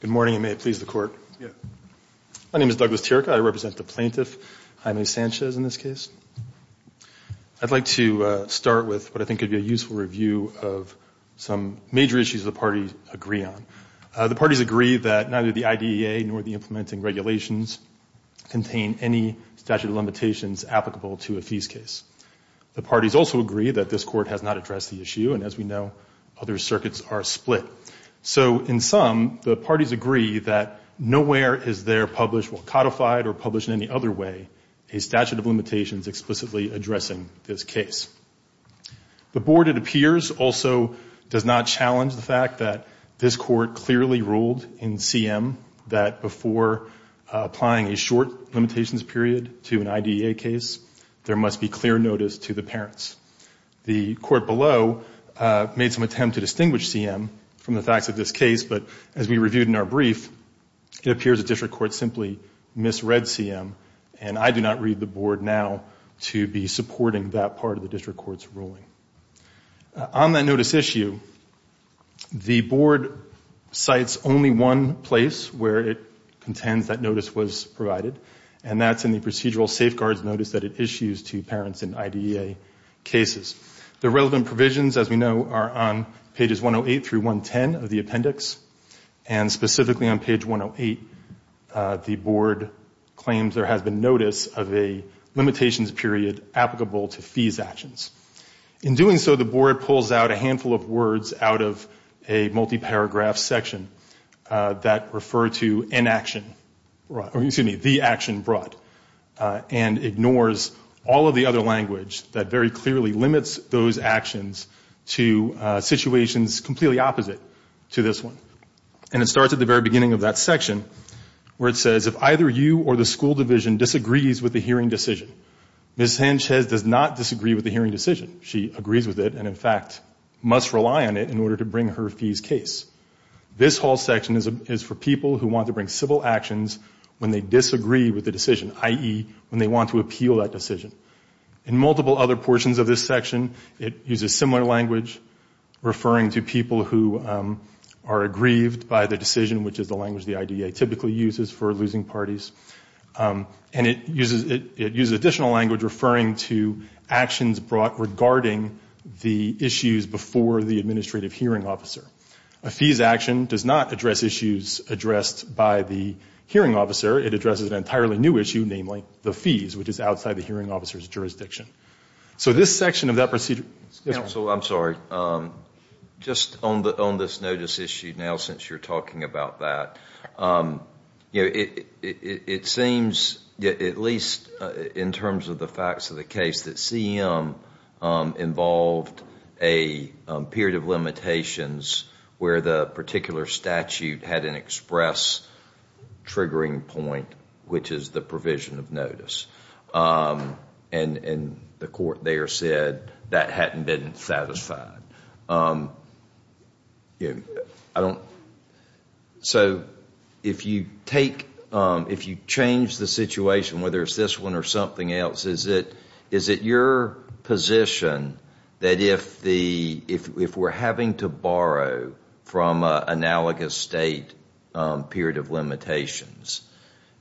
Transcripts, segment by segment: Good morning, and may it please the Court. My name is Douglas Tirica. I represent the plaintiff, Jaime Sanchez, in this case. I'd like to start with what I think could be a useful review of some major issues the parties agree on. The parties agree that neither the IDEA nor the implementing regulations contain any statute of limitations applicable to a fees case. The parties also agree that this Court has not addressed the issue, and as we know, other circuits are split. So, in sum, the parties agree that nowhere is there published, codified or published in any other way, a statute of limitations explicitly addressing this case. The Board, it appears, also does not challenge the fact that this Court clearly ruled in CM that before applying a short limitations period to an IDEA case, there must be clear and clear notice to the parents. The Court below made some attempt to distinguish CM from the facts of this case, but as we reviewed in our brief, it appears the District Court simply misread CM, and I do not read the Board now to be supporting that part of the District Court's ruling. On that notice issue, the Board cites only one place where it contends that notice was provided, and that's in the procedural safeguards notice that it issues to parents in IDEA cases. The relevant provisions, as we know, are on pages 108 through 110 of the appendix, and specifically on page 108, the Board claims there has been notice of a limitations period applicable to fees actions. In doing so, the Board pulls out a handful of words out of a multi-paragraph section that refer to inaction, or excuse me, the action brought, and ignores all of the other language that very clearly limits those actions to situations completely opposite to this one. And it starts at the very beginning of that section, where it says, if either you or the school division disagrees with the hearing decision, Ms. Sanchez does not disagree with the hearing decision. She agrees with it, and in fact, must rely on it in order to bring her fees case. This whole section is for people who want to bring civil actions when they disagree with the decision. I.e., when they want to appeal that decision. In multiple other portions of this section, it uses similar language, referring to people who are aggrieved by the decision, which is the language the IDEA typically uses for losing parties, and it uses additional language referring to actions brought regarding the issues before the administrative hearing officer. A fees action does not address issues addressed by the hearing officer. It addresses an entirely new issue, which is the administrative hearing officer. It addresses an entirely new issue, namely, the fees, which is outside the hearing officer's jurisdiction. So this section of that procedure... Counsel, I'm sorry. Just on this notice issue now, since you're talking about that, it seems, at least in terms of the facts of the case, that CM involved a period of limitations where the particular statute had an express triggering point, which is the provision of notice, and the court there said that hadn't been satisfied. So if you change the situation, whether it's this one or something else, is it your position that if we're having to borrow from an analogous state period of limitations,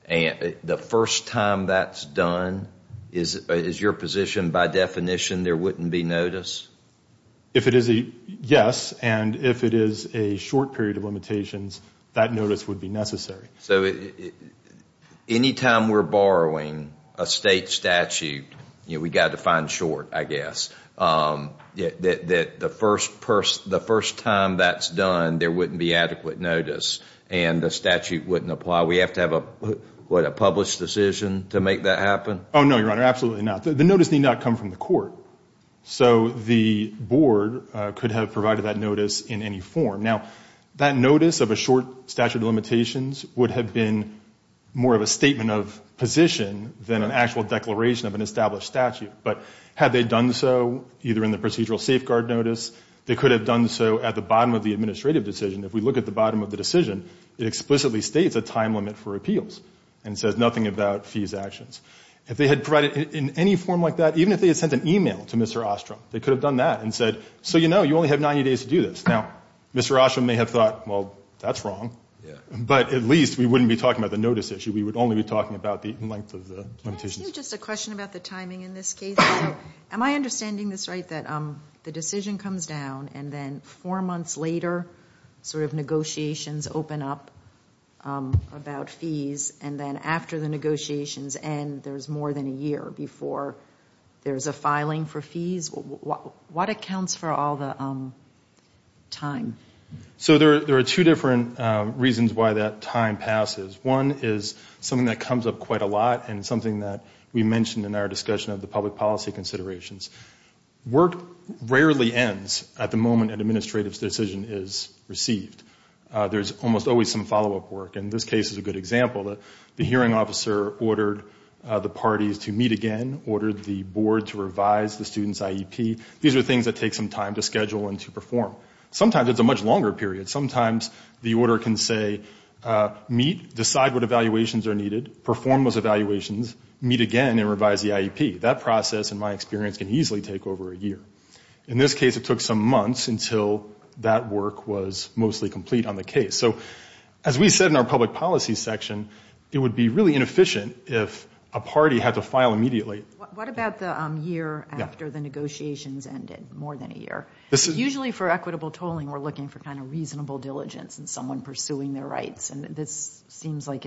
the first time that's done, is your position, by definition, there wouldn't be notice? If it is a yes, and if it is a short period of limitations, that notice would be necessary. So any time we're borrowing a state statute, we've got to find short, I guess. The first time that's done, there wouldn't be adequate notice, and the statute wouldn't apply. We have to have, what, a published decision to make that happen? Oh, no, Your Honor, absolutely not. The notice need not come from the court. So the board could have provided that notice in any form. Now, that notice of a short statute of limitations would have been more of a statement of position than an actual declaration of an established statute. But had they done so, either in the procedural safeguard notice, they could have done so at the bottom of the administrative decision. If we look at the bottom of the decision, it explicitly states a time limit for appeals and says nothing about fees actions. If they had provided it in any form like that, even if they had sent an e-mail to Mr. Ostrom, they could have done that and said, so you know, you only have 90 days to do this. Now, Mr. Ostrom may have thought, well, that's wrong. But at least we wouldn't be talking about the notice issue. We would only be talking about the length of the limitations. Just a question about the timing in this case. Am I understanding this right, that the decision comes down, and then four months later, sort of negotiations open up about fees, and then after the negotiations end, there's more than a year before there's a filing for fees? What accounts for all the time? So there are two different reasons why that time passes. One is something that comes up quite a lot and something that we mentioned in our discussion of the public policy considerations. Work rarely ends at the moment an administrative decision is received. There's almost always some follow-up work, and this case is a good example. The hearing officer ordered the parties to meet again, ordered the board to revise the student's IEP. These are things that take some time to schedule and to perform. Sometimes it's a much longer period. Sometimes the order can say, meet, decide what evaluations are needed, perform those evaluations, meet again and revise the IEP. That process, in my experience, can easily take over a year. In this case, it took some months until that work was mostly complete on the case. So as we said in our public policy section, it would be really inefficient if a party had to file immediately. What about the year after the negotiations ended, more than a year? Usually for equitable tolling, we're looking for kind of reasonable diligence and someone pursuing their rights, and this seems like,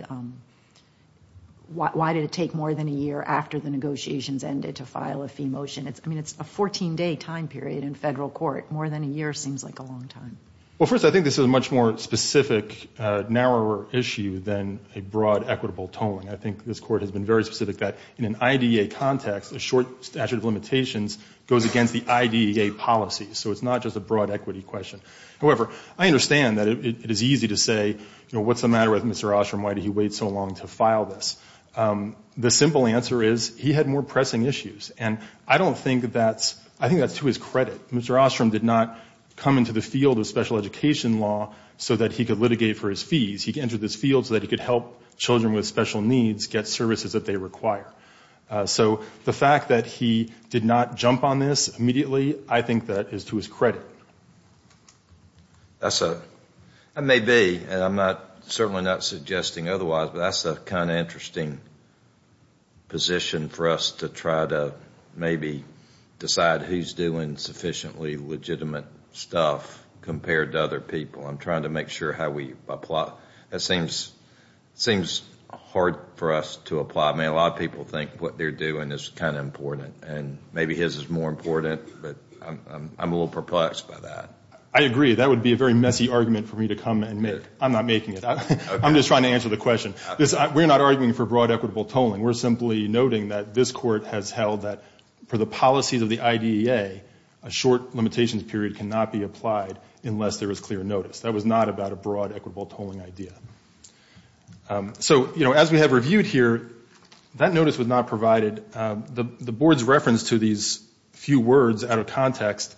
why did it take more than a year after the negotiations ended to file a fee motion? I mean, it's a 14-day time period in federal court. More than a year seems like a long time. Well, first, I think this is a much more specific, narrower issue than a broad equitable tolling. I think this court has been very specific that in an IDEA context, a short statute of limitations goes against the IDEA policy. So it's not just a broad equity question. However, I understand that it is easy to say, you know, what's the matter with Mr. Ostrom? Why did he wait so long to file this? The simple answer is he had more pressing issues. And I don't think that's, I think that's to his credit. Mr. Ostrom did not come into the field of special education law so that he could litigate for his fees. He entered this field so that he could help children with special needs get services that they require. So the fact that he did not jump on this immediately, I think that is to his credit. That's a, that may be, and I'm not, certainly not suggesting otherwise, but that's a kind of interesting position for us to try to maybe decide who's doing sufficiently legitimate stuff compared to other people. I'm trying to make sure how we apply. That seems, seems hard for us to apply. I mean, a lot of people think what they're doing is kind of important. And maybe his is more important, but I'm a little perplexed by that. I agree. That would be a very messy argument for me to come and make. I'm not making it. I'm just trying to answer the question. We're not arguing for broad equitable tolling. We're simply noting that this Court has held that for the policies of the IDEA, a short limitations period cannot be applied unless there is clear notice. That was not about a broad equitable tolling idea. So, you know, as we have reviewed here, that notice was not provided. The Board's reference to these few words out of context,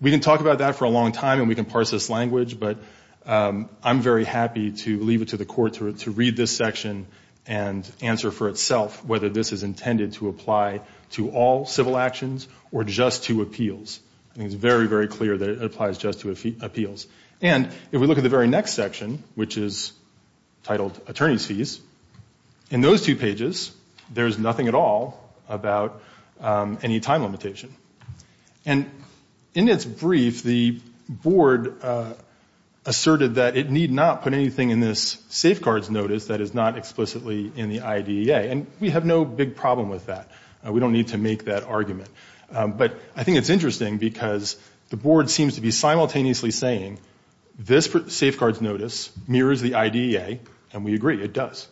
we can talk about that for a long time and we can parse this language, but I'm very happy to leave it to the Court to read this section and answer for itself whether this is intended to apply to all civil actions or just to appeals. I think it's very, very clear that it applies just to appeals. And if we look at the very next section, which is titled Attorney's Fees, in those two pages, there's nothing at all about any time limitation. And in its brief, the Board asserted that it need not put anything in this safeguards notice that is not explicitly in the IDEA, and we have no big problem with that. We don't need to make that argument. But I think it's interesting because the Board seems to be simultaneously saying this safeguards notice mirrors the IDEA, and we agree, it does.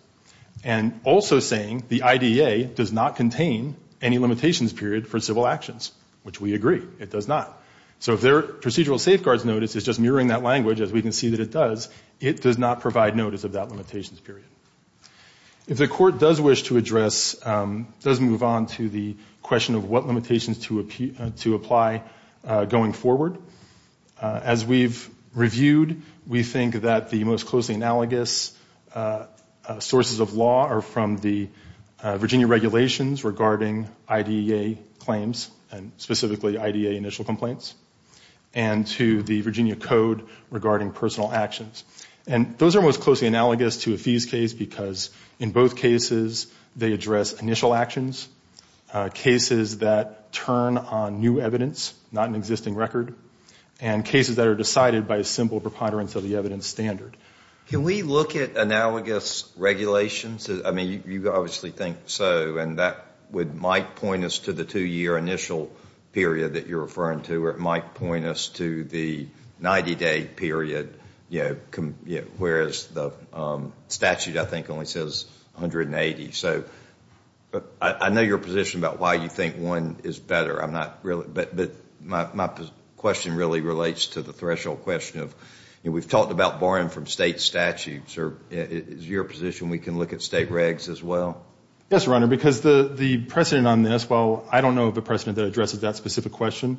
And also saying the IDEA does not contain any limitations period for civil actions, which we agree, it does not. So if their procedural safeguards notice is just mirroring that language, as we can see that it does, it does not provide notice of that limitations period. If the Court does wish to address, does move on to the question of what limitations to apply going forward, as we've reviewed, we think that the most closely analogous sources of law are from the Virginia regulations regarding IDEA claims, and specifically IDEA initial complaints, and to the Virginia Code regarding personal actions. And those are most closely analogous to a fees case because in both cases they address initial actions, cases that turn on new evidence, not an existing record, and cases that are decided by a simple preponderance of the evidence standard. Can we look at analogous regulations? I mean, you obviously think so, and that might point us to the two-year initial period that you're referring to, or it might point us to the 90-day period, whereas the statute, I think, only says 180. So I know your position about why you think one is better, but my question really relates to the threshold question. We've talked about borrowing from State statutes. Is it your position we can look at State regs as well? Yes, Your Honor, because the precedent on this, well, I don't know of a precedent that addresses that specific question,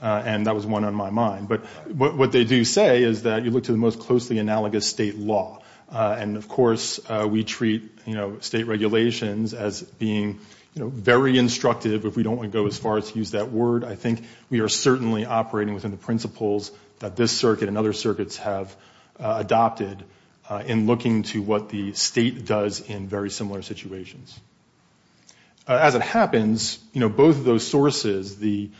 and that was one on my mind, but what they do say is that you look to the most closely analogous State law, and of course we treat State regulations as being very instructive if we don't want to go as far as to use that word. I think we are certainly operating within the principles that this circuit and other circuits have adopted in looking to what the State does in very similar situations. As it happens, both of those sources, the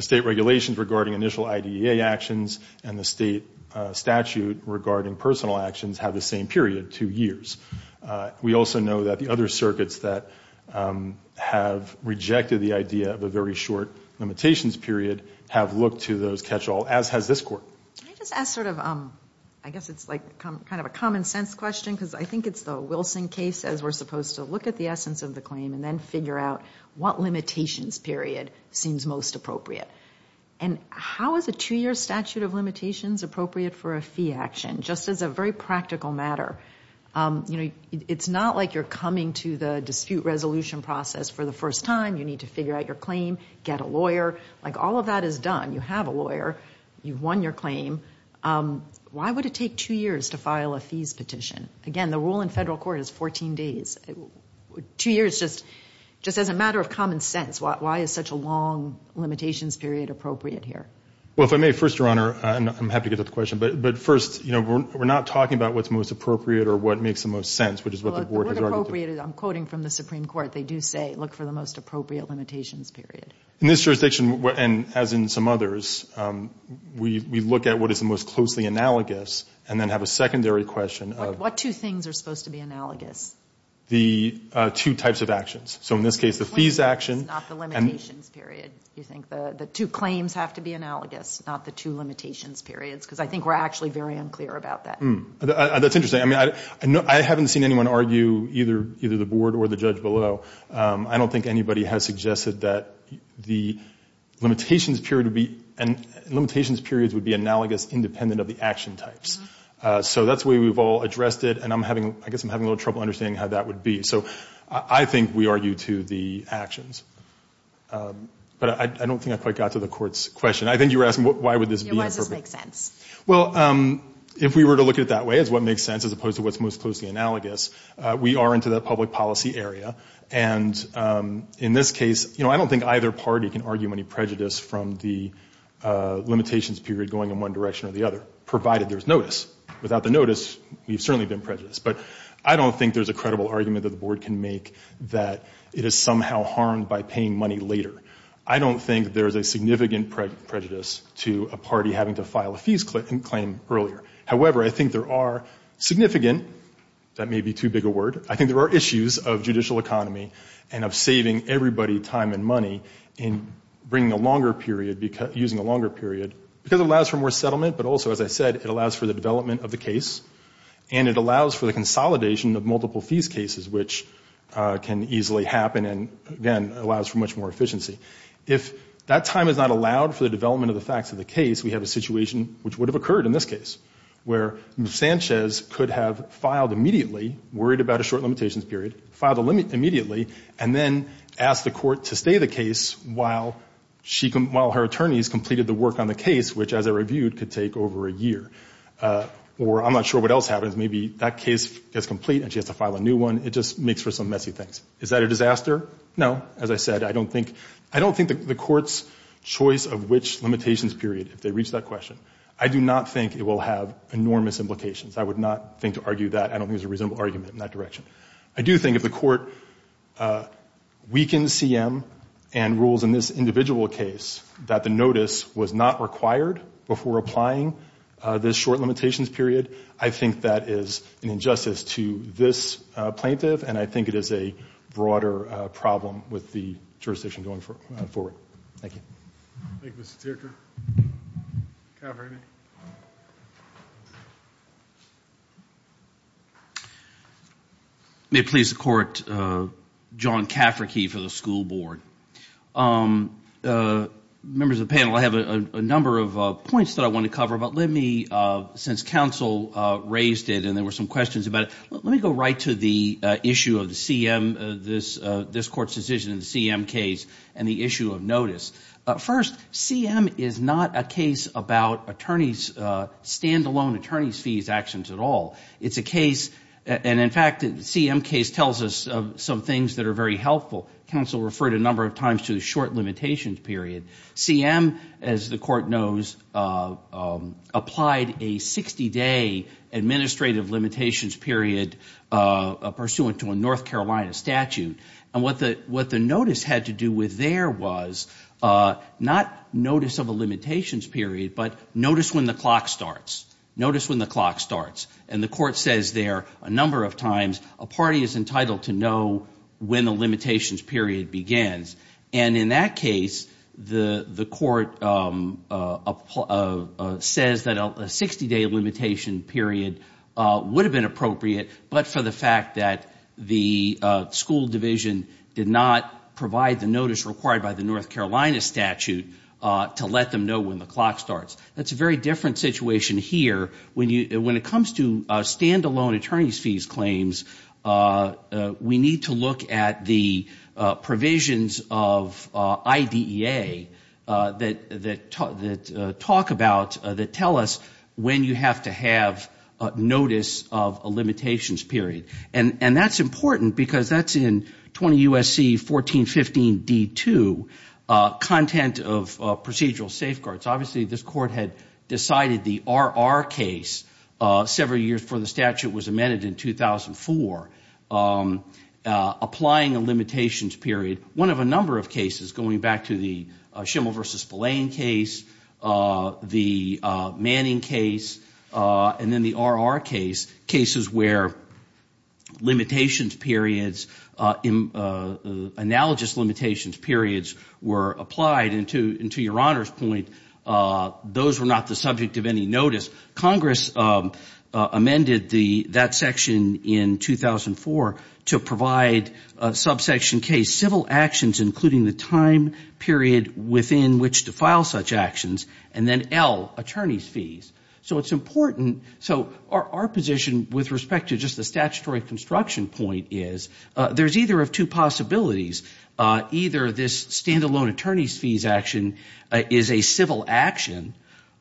State regulations regarding initial IDEA actions and the State statute regarding personal actions have the same period, two years. We also know that the other circuits that have rejected the idea of a very short limitations period have looked to those catch-all, as has this Court. If that is done, you have a lawyer, you've won your claim, why would it take two years to file a fees petition? Again, the rule in federal court is 14 days. Two years just as a matter of common sense. Why is such a long limitations period appropriate here? Well, if I may, first, Your Honor, and I'm happy to get to the question, but first, we're not talking about what's most appropriate or what makes the most sense, which is what the Board has argued. I'm quoting from the Supreme Court. They do say, look for the most appropriate limitations period. In this jurisdiction, and as in some others, we look at what is the most closely analogous and then have a secondary question. What two things are supposed to be analogous? The two types of actions. So in this case, the fees action. Not the limitations period. You think the two claims have to be analogous, not the two limitations periods, because I think we're actually very unclear about that. That's interesting. I haven't seen anyone argue either the Board or the judge below. I don't think anybody has suggested that the limitations period would be analogous independent of the action types. So that's the way we've all addressed it, and I guess I'm having a little trouble understanding how that would be. So I think we argue to the actions, but I don't think I quite got to the Court's question. I think you were asking why would this be imperfect? Yeah, why does this make sense? Well, if we were to look at it that way, as what makes sense as opposed to what's most closely analogous, we are into the public policy area, and in this case, you know, I don't think either party can argue any prejudice from the limitations period going in one direction or the other, provided there's notice. Without the notice, we've certainly been prejudiced. But I don't think there's a credible argument that the Board can make that it is somehow harmed by paying money later. I don't think there's a significant prejudice to a party having to file a fees claim earlier. However, I think there are significant, that may be too big a word, I think there are issues of judicial economy and of saving everybody time and money in bringing a longer period, using a longer period, because it allows for more settlement, but also, as I said, it allows for the development of the case, and it allows for the consolidation of multiple fees cases, which can easily happen and, again, allows for much more efficiency. If that time is not allowed for the development of the facts of the case, we have a situation which would have occurred in this case, where Sanchez could have filed immediately, worried about a short limitations period, filed immediately, and then asked the Court to stay the case while her attorneys completed the work on the case, which, as I reviewed, could take over a year. Or I'm not sure what else happens. Maybe that case gets complete and she has to file a new one. It just makes for some messy things. Is that a disaster? No. As I said, I don't think the Court's choice of which limitations period, if they reach that question, I do not think it will have enormous implications. I would not think to argue that. I don't think there's a reasonable argument in that direction. I do think if the Court weakens CM and rules in this individual case that the notice was not required before applying this short limitations period, I think that is an injustice to this plaintiff and I think it is a broader problem with the jurisdiction going forward. Thank you. Thank you, Mr. Ticker. Mr. Cafferty. May it please the Court, John Cafferty for the School Board. Members of the panel, I have a number of points that I want to cover, but let me, since counsel raised it and there were some questions about it, let me go right to the issue of the CM, this Court's decision in the CM case and the issue of notice. First, CM is not a case about stand-alone attorney's fees actions at all. It's a case, and in fact the CM case tells us some things that are very helpful. Counsel referred a number of times to the short limitations period. CM, as the Court knows, applied a 60-day administrative limitations period pursuant to a North Carolina statute. And what the notice had to do with there was not notice of a limitations period, but notice when the clock starts, notice when the clock starts. And the Court says there a number of times a party is entitled to know when the limitations period begins. And in that case, the Court says that a 60-day limitation period would have been appropriate, but for the fact that the school division did not provide the notice required by the North Carolina statute to let them know when the clock starts. That's a very different situation here. When it comes to stand-alone attorney's fees claims, we need to look at the provisions of IDEA that talk about, that tell us when you have to have notice of a limitations period. And that's important because that's in 20 U.S.C. 1415 D.2, content of procedural safeguards. Obviously this Court had decided the R.R. case several years before the statute was amended in 2004, applying a limitations period. One of a number of cases, going back to the Schimel v. Spillane case, the Manning case, and then the R.R. case, cases where limitations periods, analogous limitations periods were applied. And to your Honor's point, those were not the subject of any notice. Congress amended that section in 2004 to provide subsection K, civil actions, including the time period within which to file such actions, and then L, attorney's fees. So it's important, so our position with respect to just the statutory construction point is, there's either of two possibilities. Either this stand-alone attorney's fees action is a civil action,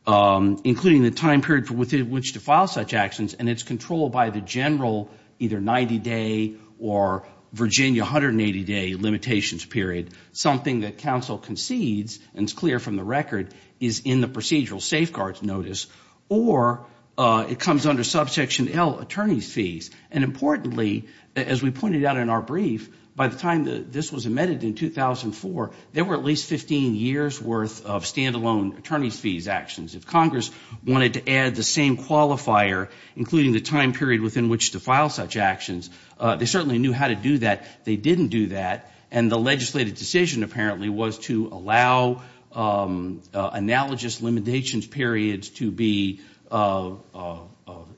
including the time period within which to file such actions, and it's controlled by the general either 90-day or Virginia 180-day limitations period, something that counsel concedes and is clear from the record is in the procedural safeguards notice, or it comes under subsection L, attorney's fees. And importantly, as we pointed out in our brief, by the time this was amended in 2004, there were at least 15 years' worth of stand-alone attorney's fees actions. If Congress wanted to add the same qualifier, including the time period within which to file such actions, they certainly knew how to do that. They didn't do that, and the legislative decision, apparently, was to allow analogous limitations periods to be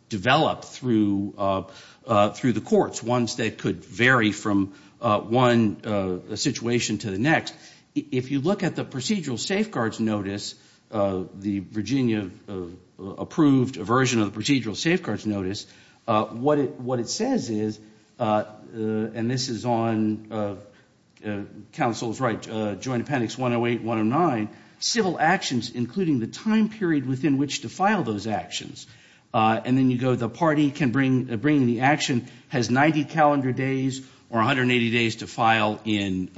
developed through the courts, ones that could vary from one situation to the next. If you look at the procedural safeguards notice, the Virginia approved version of the procedural safeguards notice, what it says is, and this is on counsel's right, Joint Appendix 108-109, civil actions including the time period within which to file those actions. And then you go, the party can bring the action has 90 calendar days or 180 days to file in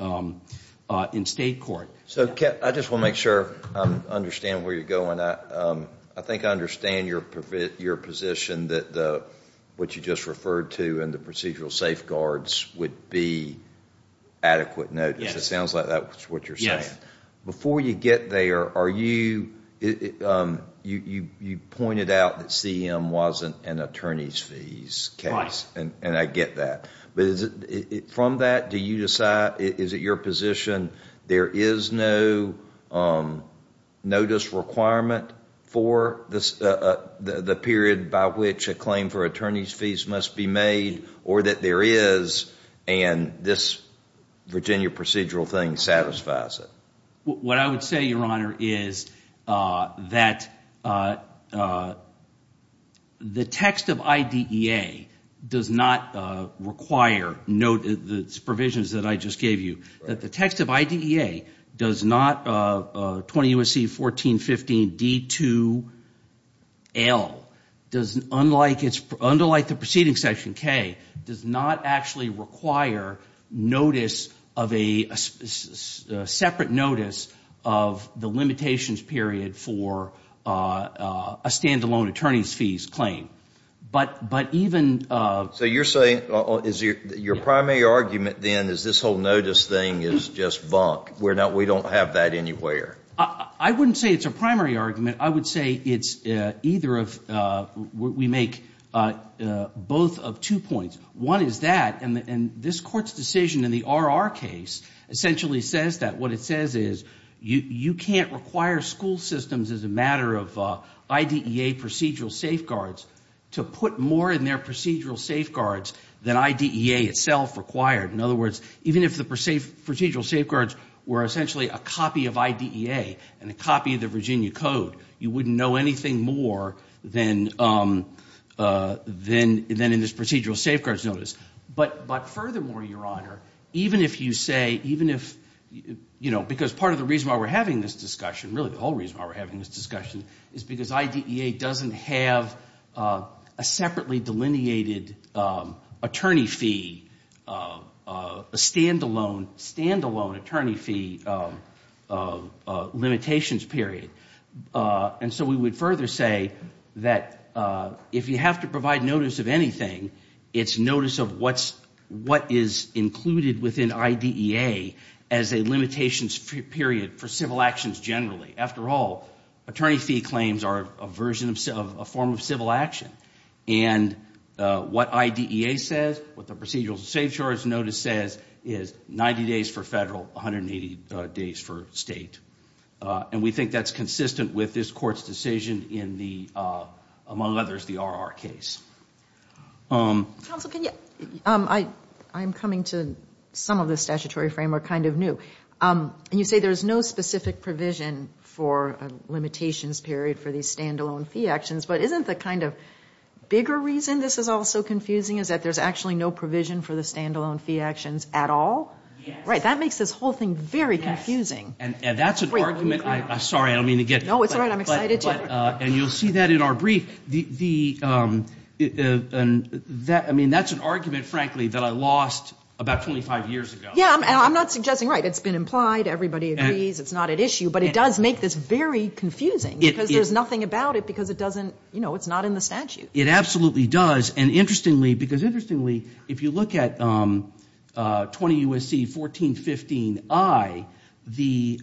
state court. So, I just want to make sure I understand where you're going. I think I understand your position that what you just referred to in the procedural safeguards would be adequate notice. It sounds like that's what you're saying. Before you get there, you pointed out that CM wasn't an attorney's fees case, and I get that. From that, is it your position there is no notice requirement for the period by which a claim for attorney's fees must be made, or that there is and this Virginia procedural thing satisfies it? What I would say, Your Honor, is that the text of IDEA does not require, note the provisions that I just gave you, that the text of IDEA does not, 20 U.S.C. 1415 D2L, unlike the proceeding section K, does not actually require notice of a separate notice of the limitations period for a stand-alone attorney's fees claim. But even... So you're saying, your primary argument then is this whole notice thing is just bunk. We don't have that anywhere. I wouldn't say it's a primary argument. I would say it's either of, we make both of two points. One is that, and this Court's decision in the R.R. case essentially says that. What it says is you can't require school systems as a matter of IDEA procedural safeguards to put more in their procedural safeguards than IDEA itself required. In other words, even if the procedural safeguards were essentially a copy of IDEA and a copy of the Virginia Code, you wouldn't know anything more than in this procedural safeguards notice. But furthermore, Your Honor, even if you say, even if, you know, because part of the reason why we're having this discussion, really the whole reason why we're having this discussion, is because IDEA doesn't have a separately delineated attorney fee, a stand-alone attorney fee limitations period. And so we would further say that if you have to provide notice of anything, it's notice of what is included within IDEA as a limitations period for civil actions generally. After all, attorney fee claims are a form of civil action. And what IDEA says, what the procedural safeguards notice says, is 90 days for federal, 180 days for state. And we think that's consistent with this Court's decision in the, among others, the R.R. case. Counsel, can you? I'm coming to some of the statutory framework kind of new. And you say there's no specific provision for a limitations period for these stand-alone fee actions. But isn't the kind of bigger reason this is all so confusing is that there's actually no provision for the stand-alone fee actions at all? Yes. Right. That makes this whole thing very confusing. And that's an argument. I'm sorry. I don't mean to get. No, it's all right. I'm excited to. And you'll see that in our brief. I mean, that's an argument, frankly, that I lost about 25 years ago. Yeah. I'm not suggesting right. It's been implied. Everybody agrees. It's not at issue. But it does make this very confusing because there's nothing about it because it doesn't, you know, it's not in the statute. It absolutely does. And interestingly, because interestingly, if you look at 20 U.S.C. 1415I, the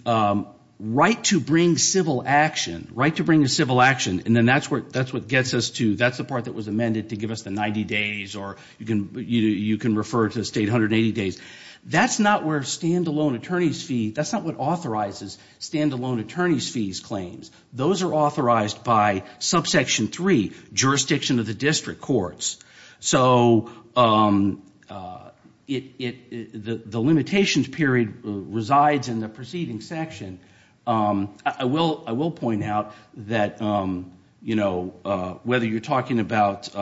right to bring civil action, right to bring a civil action, and then that's what gets us to, that's the part that was amended to give us the 90 days or you can refer to the state 180 days. That's not where a standalone attorney's fee, that's not what authorizes standalone attorney's fees claims. Those are authorized by subsection 3, jurisdiction of the district courts. So the limitations period resides in the preceding section. I will point out that, you know, whether you're talking about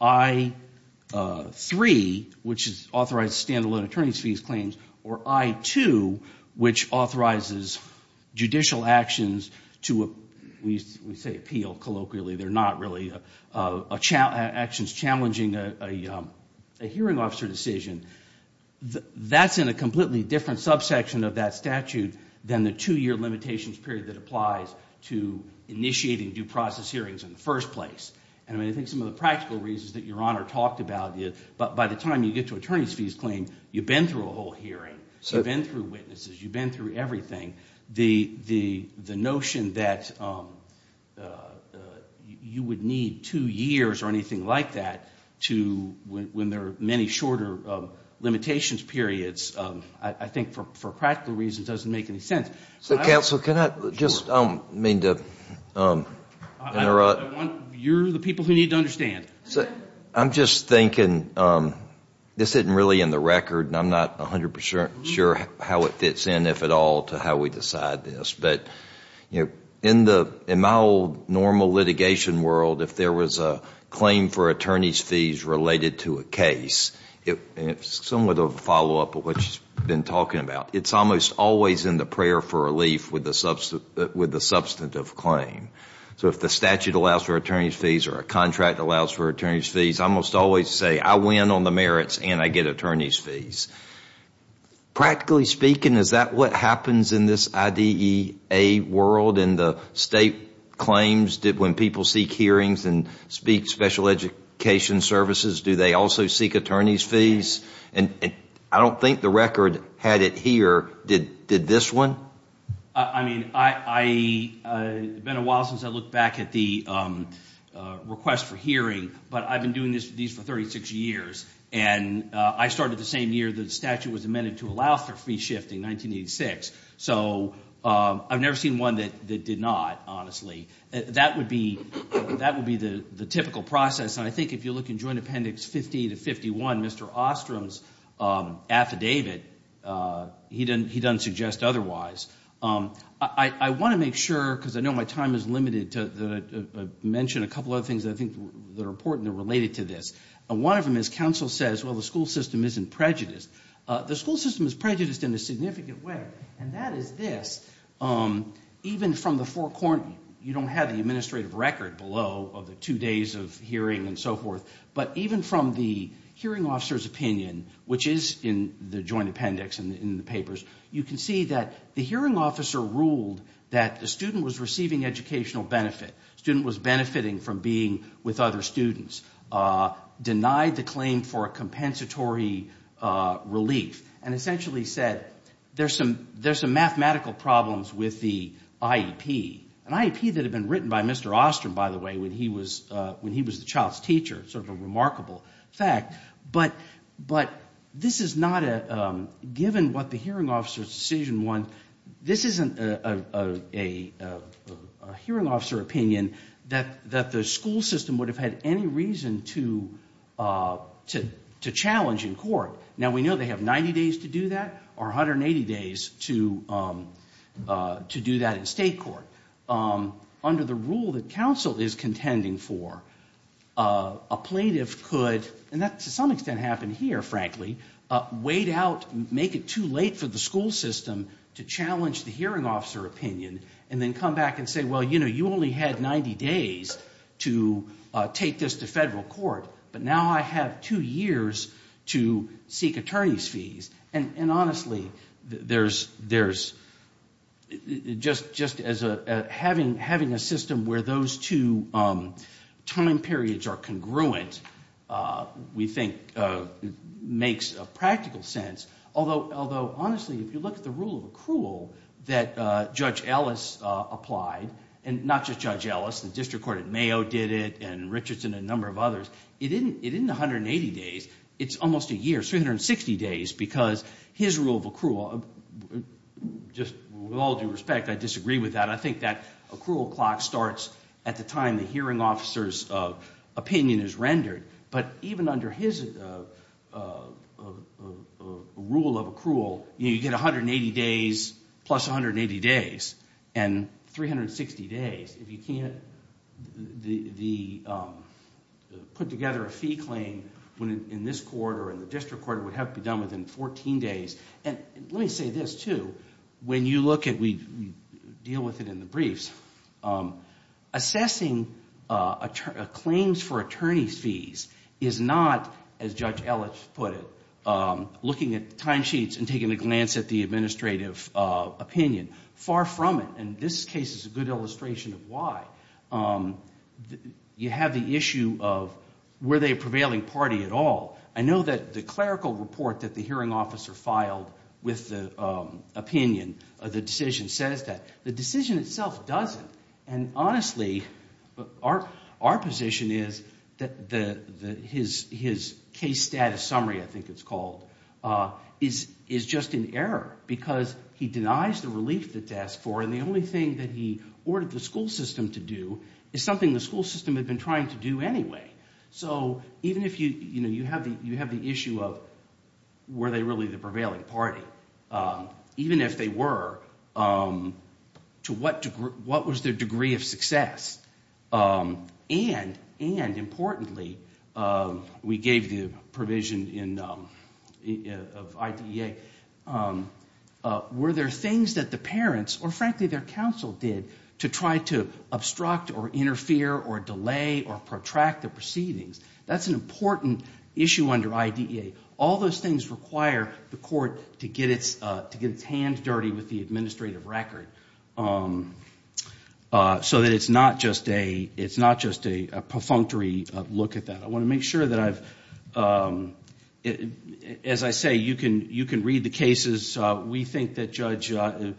I-3, which is authorized standalone attorney's fees claims, or I-2, which authorizes judicial actions to, we say appeal colloquially. They're not really actions challenging a hearing officer decision. That's in a completely different subsection of that statute than the two-year limitations period that applies to initiating due process hearings in the first place. And I mean, I think some of the practical reasons that Your Honor talked about, by the time you get to attorney's fees claims, you've been through a whole hearing. You've been through witnesses. You've been through everything. The notion that you would need two years or anything like that to, when there are many shorter limitations periods, I think for practical reasons doesn't make any sense. Counsel, can I just mean to interrupt? You're the people who need to understand. I'm just thinking, this isn't really in the record, and I'm not 100% sure how it fits in, if at all, to how we decide this. But, you know, in my old normal litigation world, if there was a claim for attorney's fees related to a case, it's somewhat of a follow-up of what you've been talking about. It's almost always in the prayer for relief with the substantive claim. So if the statute allows for attorney's fees or a contract allows for attorney's fees, I almost always say I win on the merits and I get attorney's fees. Practically speaking, is that what happens in this IDEA world in the state claims when people seek hearings and speak special education services, do they also seek attorney's fees? And I don't think the record had it here. Did this one? I mean, it's been a while since I looked back at the request for hearing, but I've been doing these for 36 years. And I started the same year the statute was amended to allow for fee shifting, 1986. So I've never seen one that did not, honestly. That would be the typical process, and I think if you look in Joint Appendix 50 to 51, Mr. Ostrom's affidavit, he doesn't suggest otherwise. I want to make sure, because I know my time is limited, to mention a couple other things that I think are important and related to this. One of them is counsel says, well, the school system isn't prejudiced. The school system is prejudiced in a significant way, and that is this. Even from the forecourt, you don't have the administrative record below of the two days of hearing and so forth. But even from the hearing officer's opinion, which is in the Joint Appendix and in the papers, you can see that the hearing officer ruled that the student was receiving educational benefit. The student was benefiting from being with other students, denied the claim for a compensatory relief, and essentially said there's some mathematical problems with the IEP. An IEP that had been written by Mr. Ostrom, by the way, when he was the child's teacher. Sort of a remarkable fact. But this is not a, given what the hearing officer's decision was, this isn't a hearing officer opinion that the school system would have had any reason to challenge in court. Now, we know they have 90 days to do that, or 180 days to do that in state court. Under the rule that counsel is contending for, a plaintiff could, and that to some extent happened here, frankly, wait out, make it too late for the school system to challenge the hearing officer opinion, and then come back and say, well, you know, you only had 90 days to take this to federal court, but now I have two years to seek attorney's fees. And honestly, there's, just as having a system where those two time periods are congruent, we think makes a practical sense. Although, honestly, if you look at the rule of accrual that Judge Ellis applied, and not just Judge Ellis, the district court at Mayo did it, and Richardson, and a number of others, it isn't 180 days, it's almost a year, 360 days, because his rule of accrual, just with all due respect, I disagree with that. I think that accrual clock starts at the time the hearing officer's opinion is rendered. But even under his rule of accrual, you get 180 days plus 180 days, and 360 days, if you can't put together a fee claim in this court or in the district court, it would have to be done within 14 days. And let me say this, too, when you look at, we deal with it in the briefs, assessing claims for attorney's fees is not, as Judge Ellis put it, looking at timesheets and taking a glance at the administrative opinion. Far from it, and this case is a good illustration of why. You have the issue of were they a prevailing party at all. I know that the clerical report that the hearing officer filed with the opinion of the decision says that. The decision itself doesn't, and honestly, our position is that his case status summary, I think it's called, is just in error because he denies the relief that's asked for, and the only thing that he ordered the school system to do is something the school system had been trying to do anyway. So even if you have the issue of were they really the prevailing party, even if they were, to what was their degree of success? And importantly, we gave the provision of IDEA, were there things that the parents or frankly their counsel did to try to obstruct or interfere or delay or protract the proceedings? That's an important issue under IDEA. All those things require the court to get its hands dirty with the administrative record so that it's not just a perfunctory look at that. I want to make sure that I've, as I say, you can read the cases. We think that Judge, no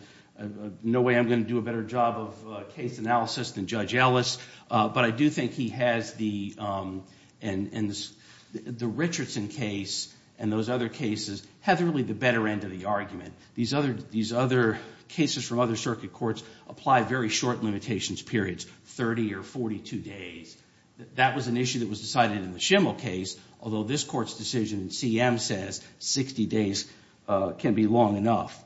way I'm going to do a better job of case analysis than Judge Ellis, but I do think he has the Richardson case and those other cases have really the better end of the argument. These other cases from other circuit courts apply very short limitations periods, 30 or 42 days. That was an issue that was decided in the Schimmel case, although this court's decision in CM says 60 days can't be long enough.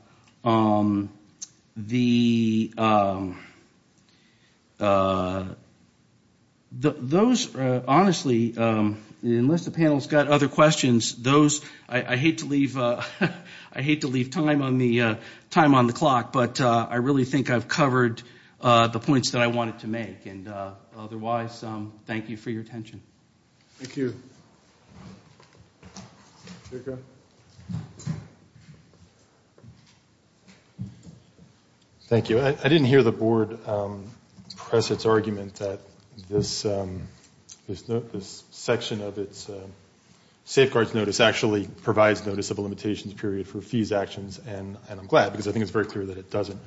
Those, honestly, unless the panel's got other questions, those, I hate to leave, I hate to leave time on the clock, but I really think I've covered the points that I wanted to make. Otherwise, thank you for your attention. Thank you. Thank you. I didn't hear the board press its argument that this section of its safeguards notice actually provides notice of a limitations period for fees actions, and I'm glad because I think it's very clear that it doesn't.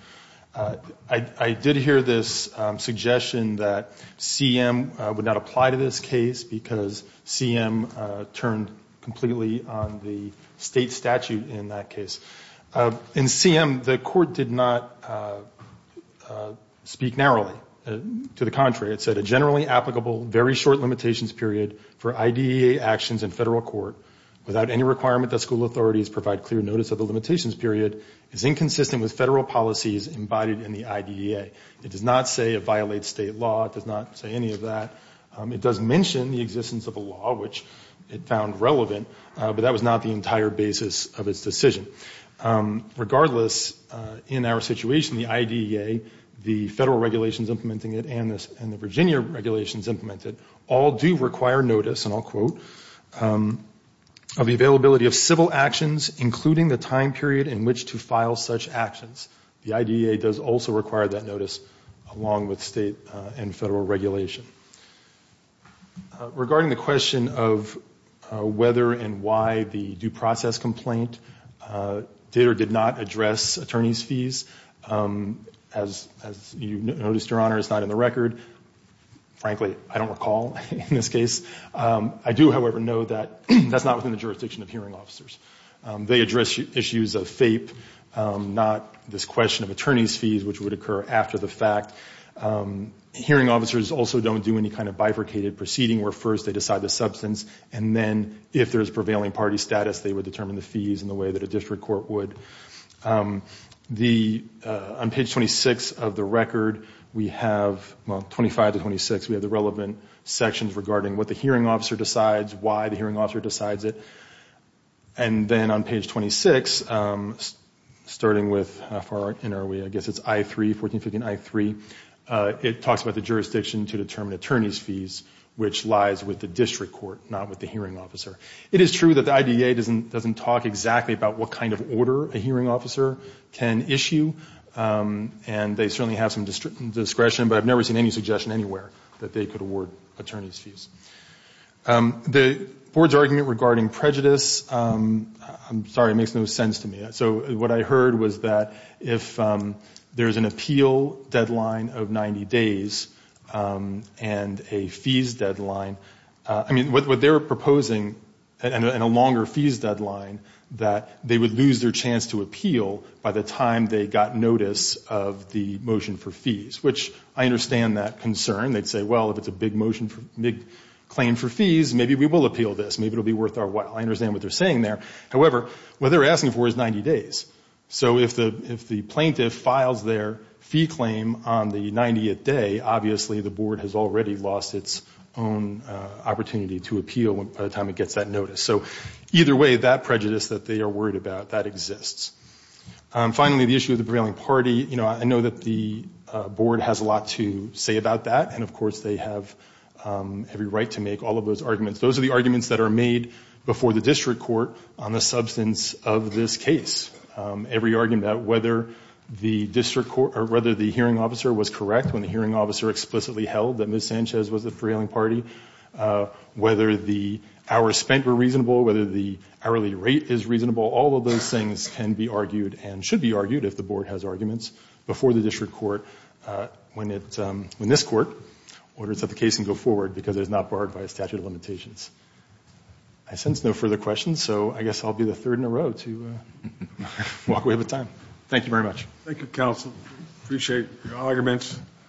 I did hear this suggestion that CM would not apply to this case because CM turned completely on the state statute in that case. In CM, the court did not speak narrowly. To the contrary, it said, a generally applicable very short limitations period for IDEA actions in federal court without any requirement that school authorities provide clear notice of the limitations period is inconsistent with federal policies embodied in the IDEA. It does not say it violates state law. It does not say any of that. It does mention the existence of a law, which it found relevant, but that was not the entire basis of its decision. Regardless, in our situation, the IDEA, the federal regulations implementing it, and the Virginia regulations implemented all do require notice, and I'll quote, of the availability of civil actions, including the time period in which to file such actions. The IDEA does also require that notice along with state and federal regulation. Regarding the question of whether and why the due process complaint did or did not address attorney's fees, as you noticed, Your Honor, it's not in the record. Frankly, I don't recall in this case. I do, however, know that that's not within the jurisdiction of hearing officers. They address issues of FAPE, not this question of attorney's fees, which would occur after the fact. Hearing officers also don't do any kind of bifurcated proceeding, where first they decide the substance, and then if there's prevailing party status, they would determine the fees in the way that a district court would. On page 26 of the record, we have, well, 25 to 26, we have the relevant sections regarding what the hearing officer decides, why the hearing officer decides it. And then on page 26, starting with, how far in are we, I guess it's I-3, 1450 and I-3, it talks about the jurisdiction to determine attorney's fees, which lies with the district court, not with the hearing officer. It is true that the IDEA doesn't talk exactly about what kind of order a hearing officer can issue, and they certainly have some discretion, but I've never seen any suggestion anywhere that they could award attorney's fees. The board's argument regarding prejudice, I'm sorry, it makes no sense to me. So what I heard was that if there's an appeal deadline of 90 days and a fees deadline, I mean, what they were proposing, and a longer fees deadline, that they would lose their chance to appeal by the time they got notice of the motion for fees, which I understand that concern. They'd say, well, if it's a big motion, big claim for fees, maybe we will appeal this. Maybe it will be worth our while. I understand what they're saying there. However, what they're asking for is 90 days. So if the plaintiff files their fee claim on the 90th day, obviously the board has already lost its own opportunity to appeal by the time it gets that notice. So either way, that prejudice that they are worried about, that exists. Finally, the issue of the prevailing party. You know, I know that the board has a lot to say about that, and, of course, they have every right to make all of those arguments. Those are the arguments that are made before the district court on the substance of this case. Every argument about whether the hearing officer was correct when the hearing officer explicitly held that Ms. Sanchez was the prevailing party, whether the hours spent were reasonable, whether the hourly rate is reasonable, all of those things can be argued and should be argued if the board has arguments before the district court when this court orders that the case can go forward because it is not barred by a statute of limitations. I sense no further questions, so I guess I'll be the third in a row to walk away with time. Thank you very much. Thank you, counsel. Appreciate your arguments.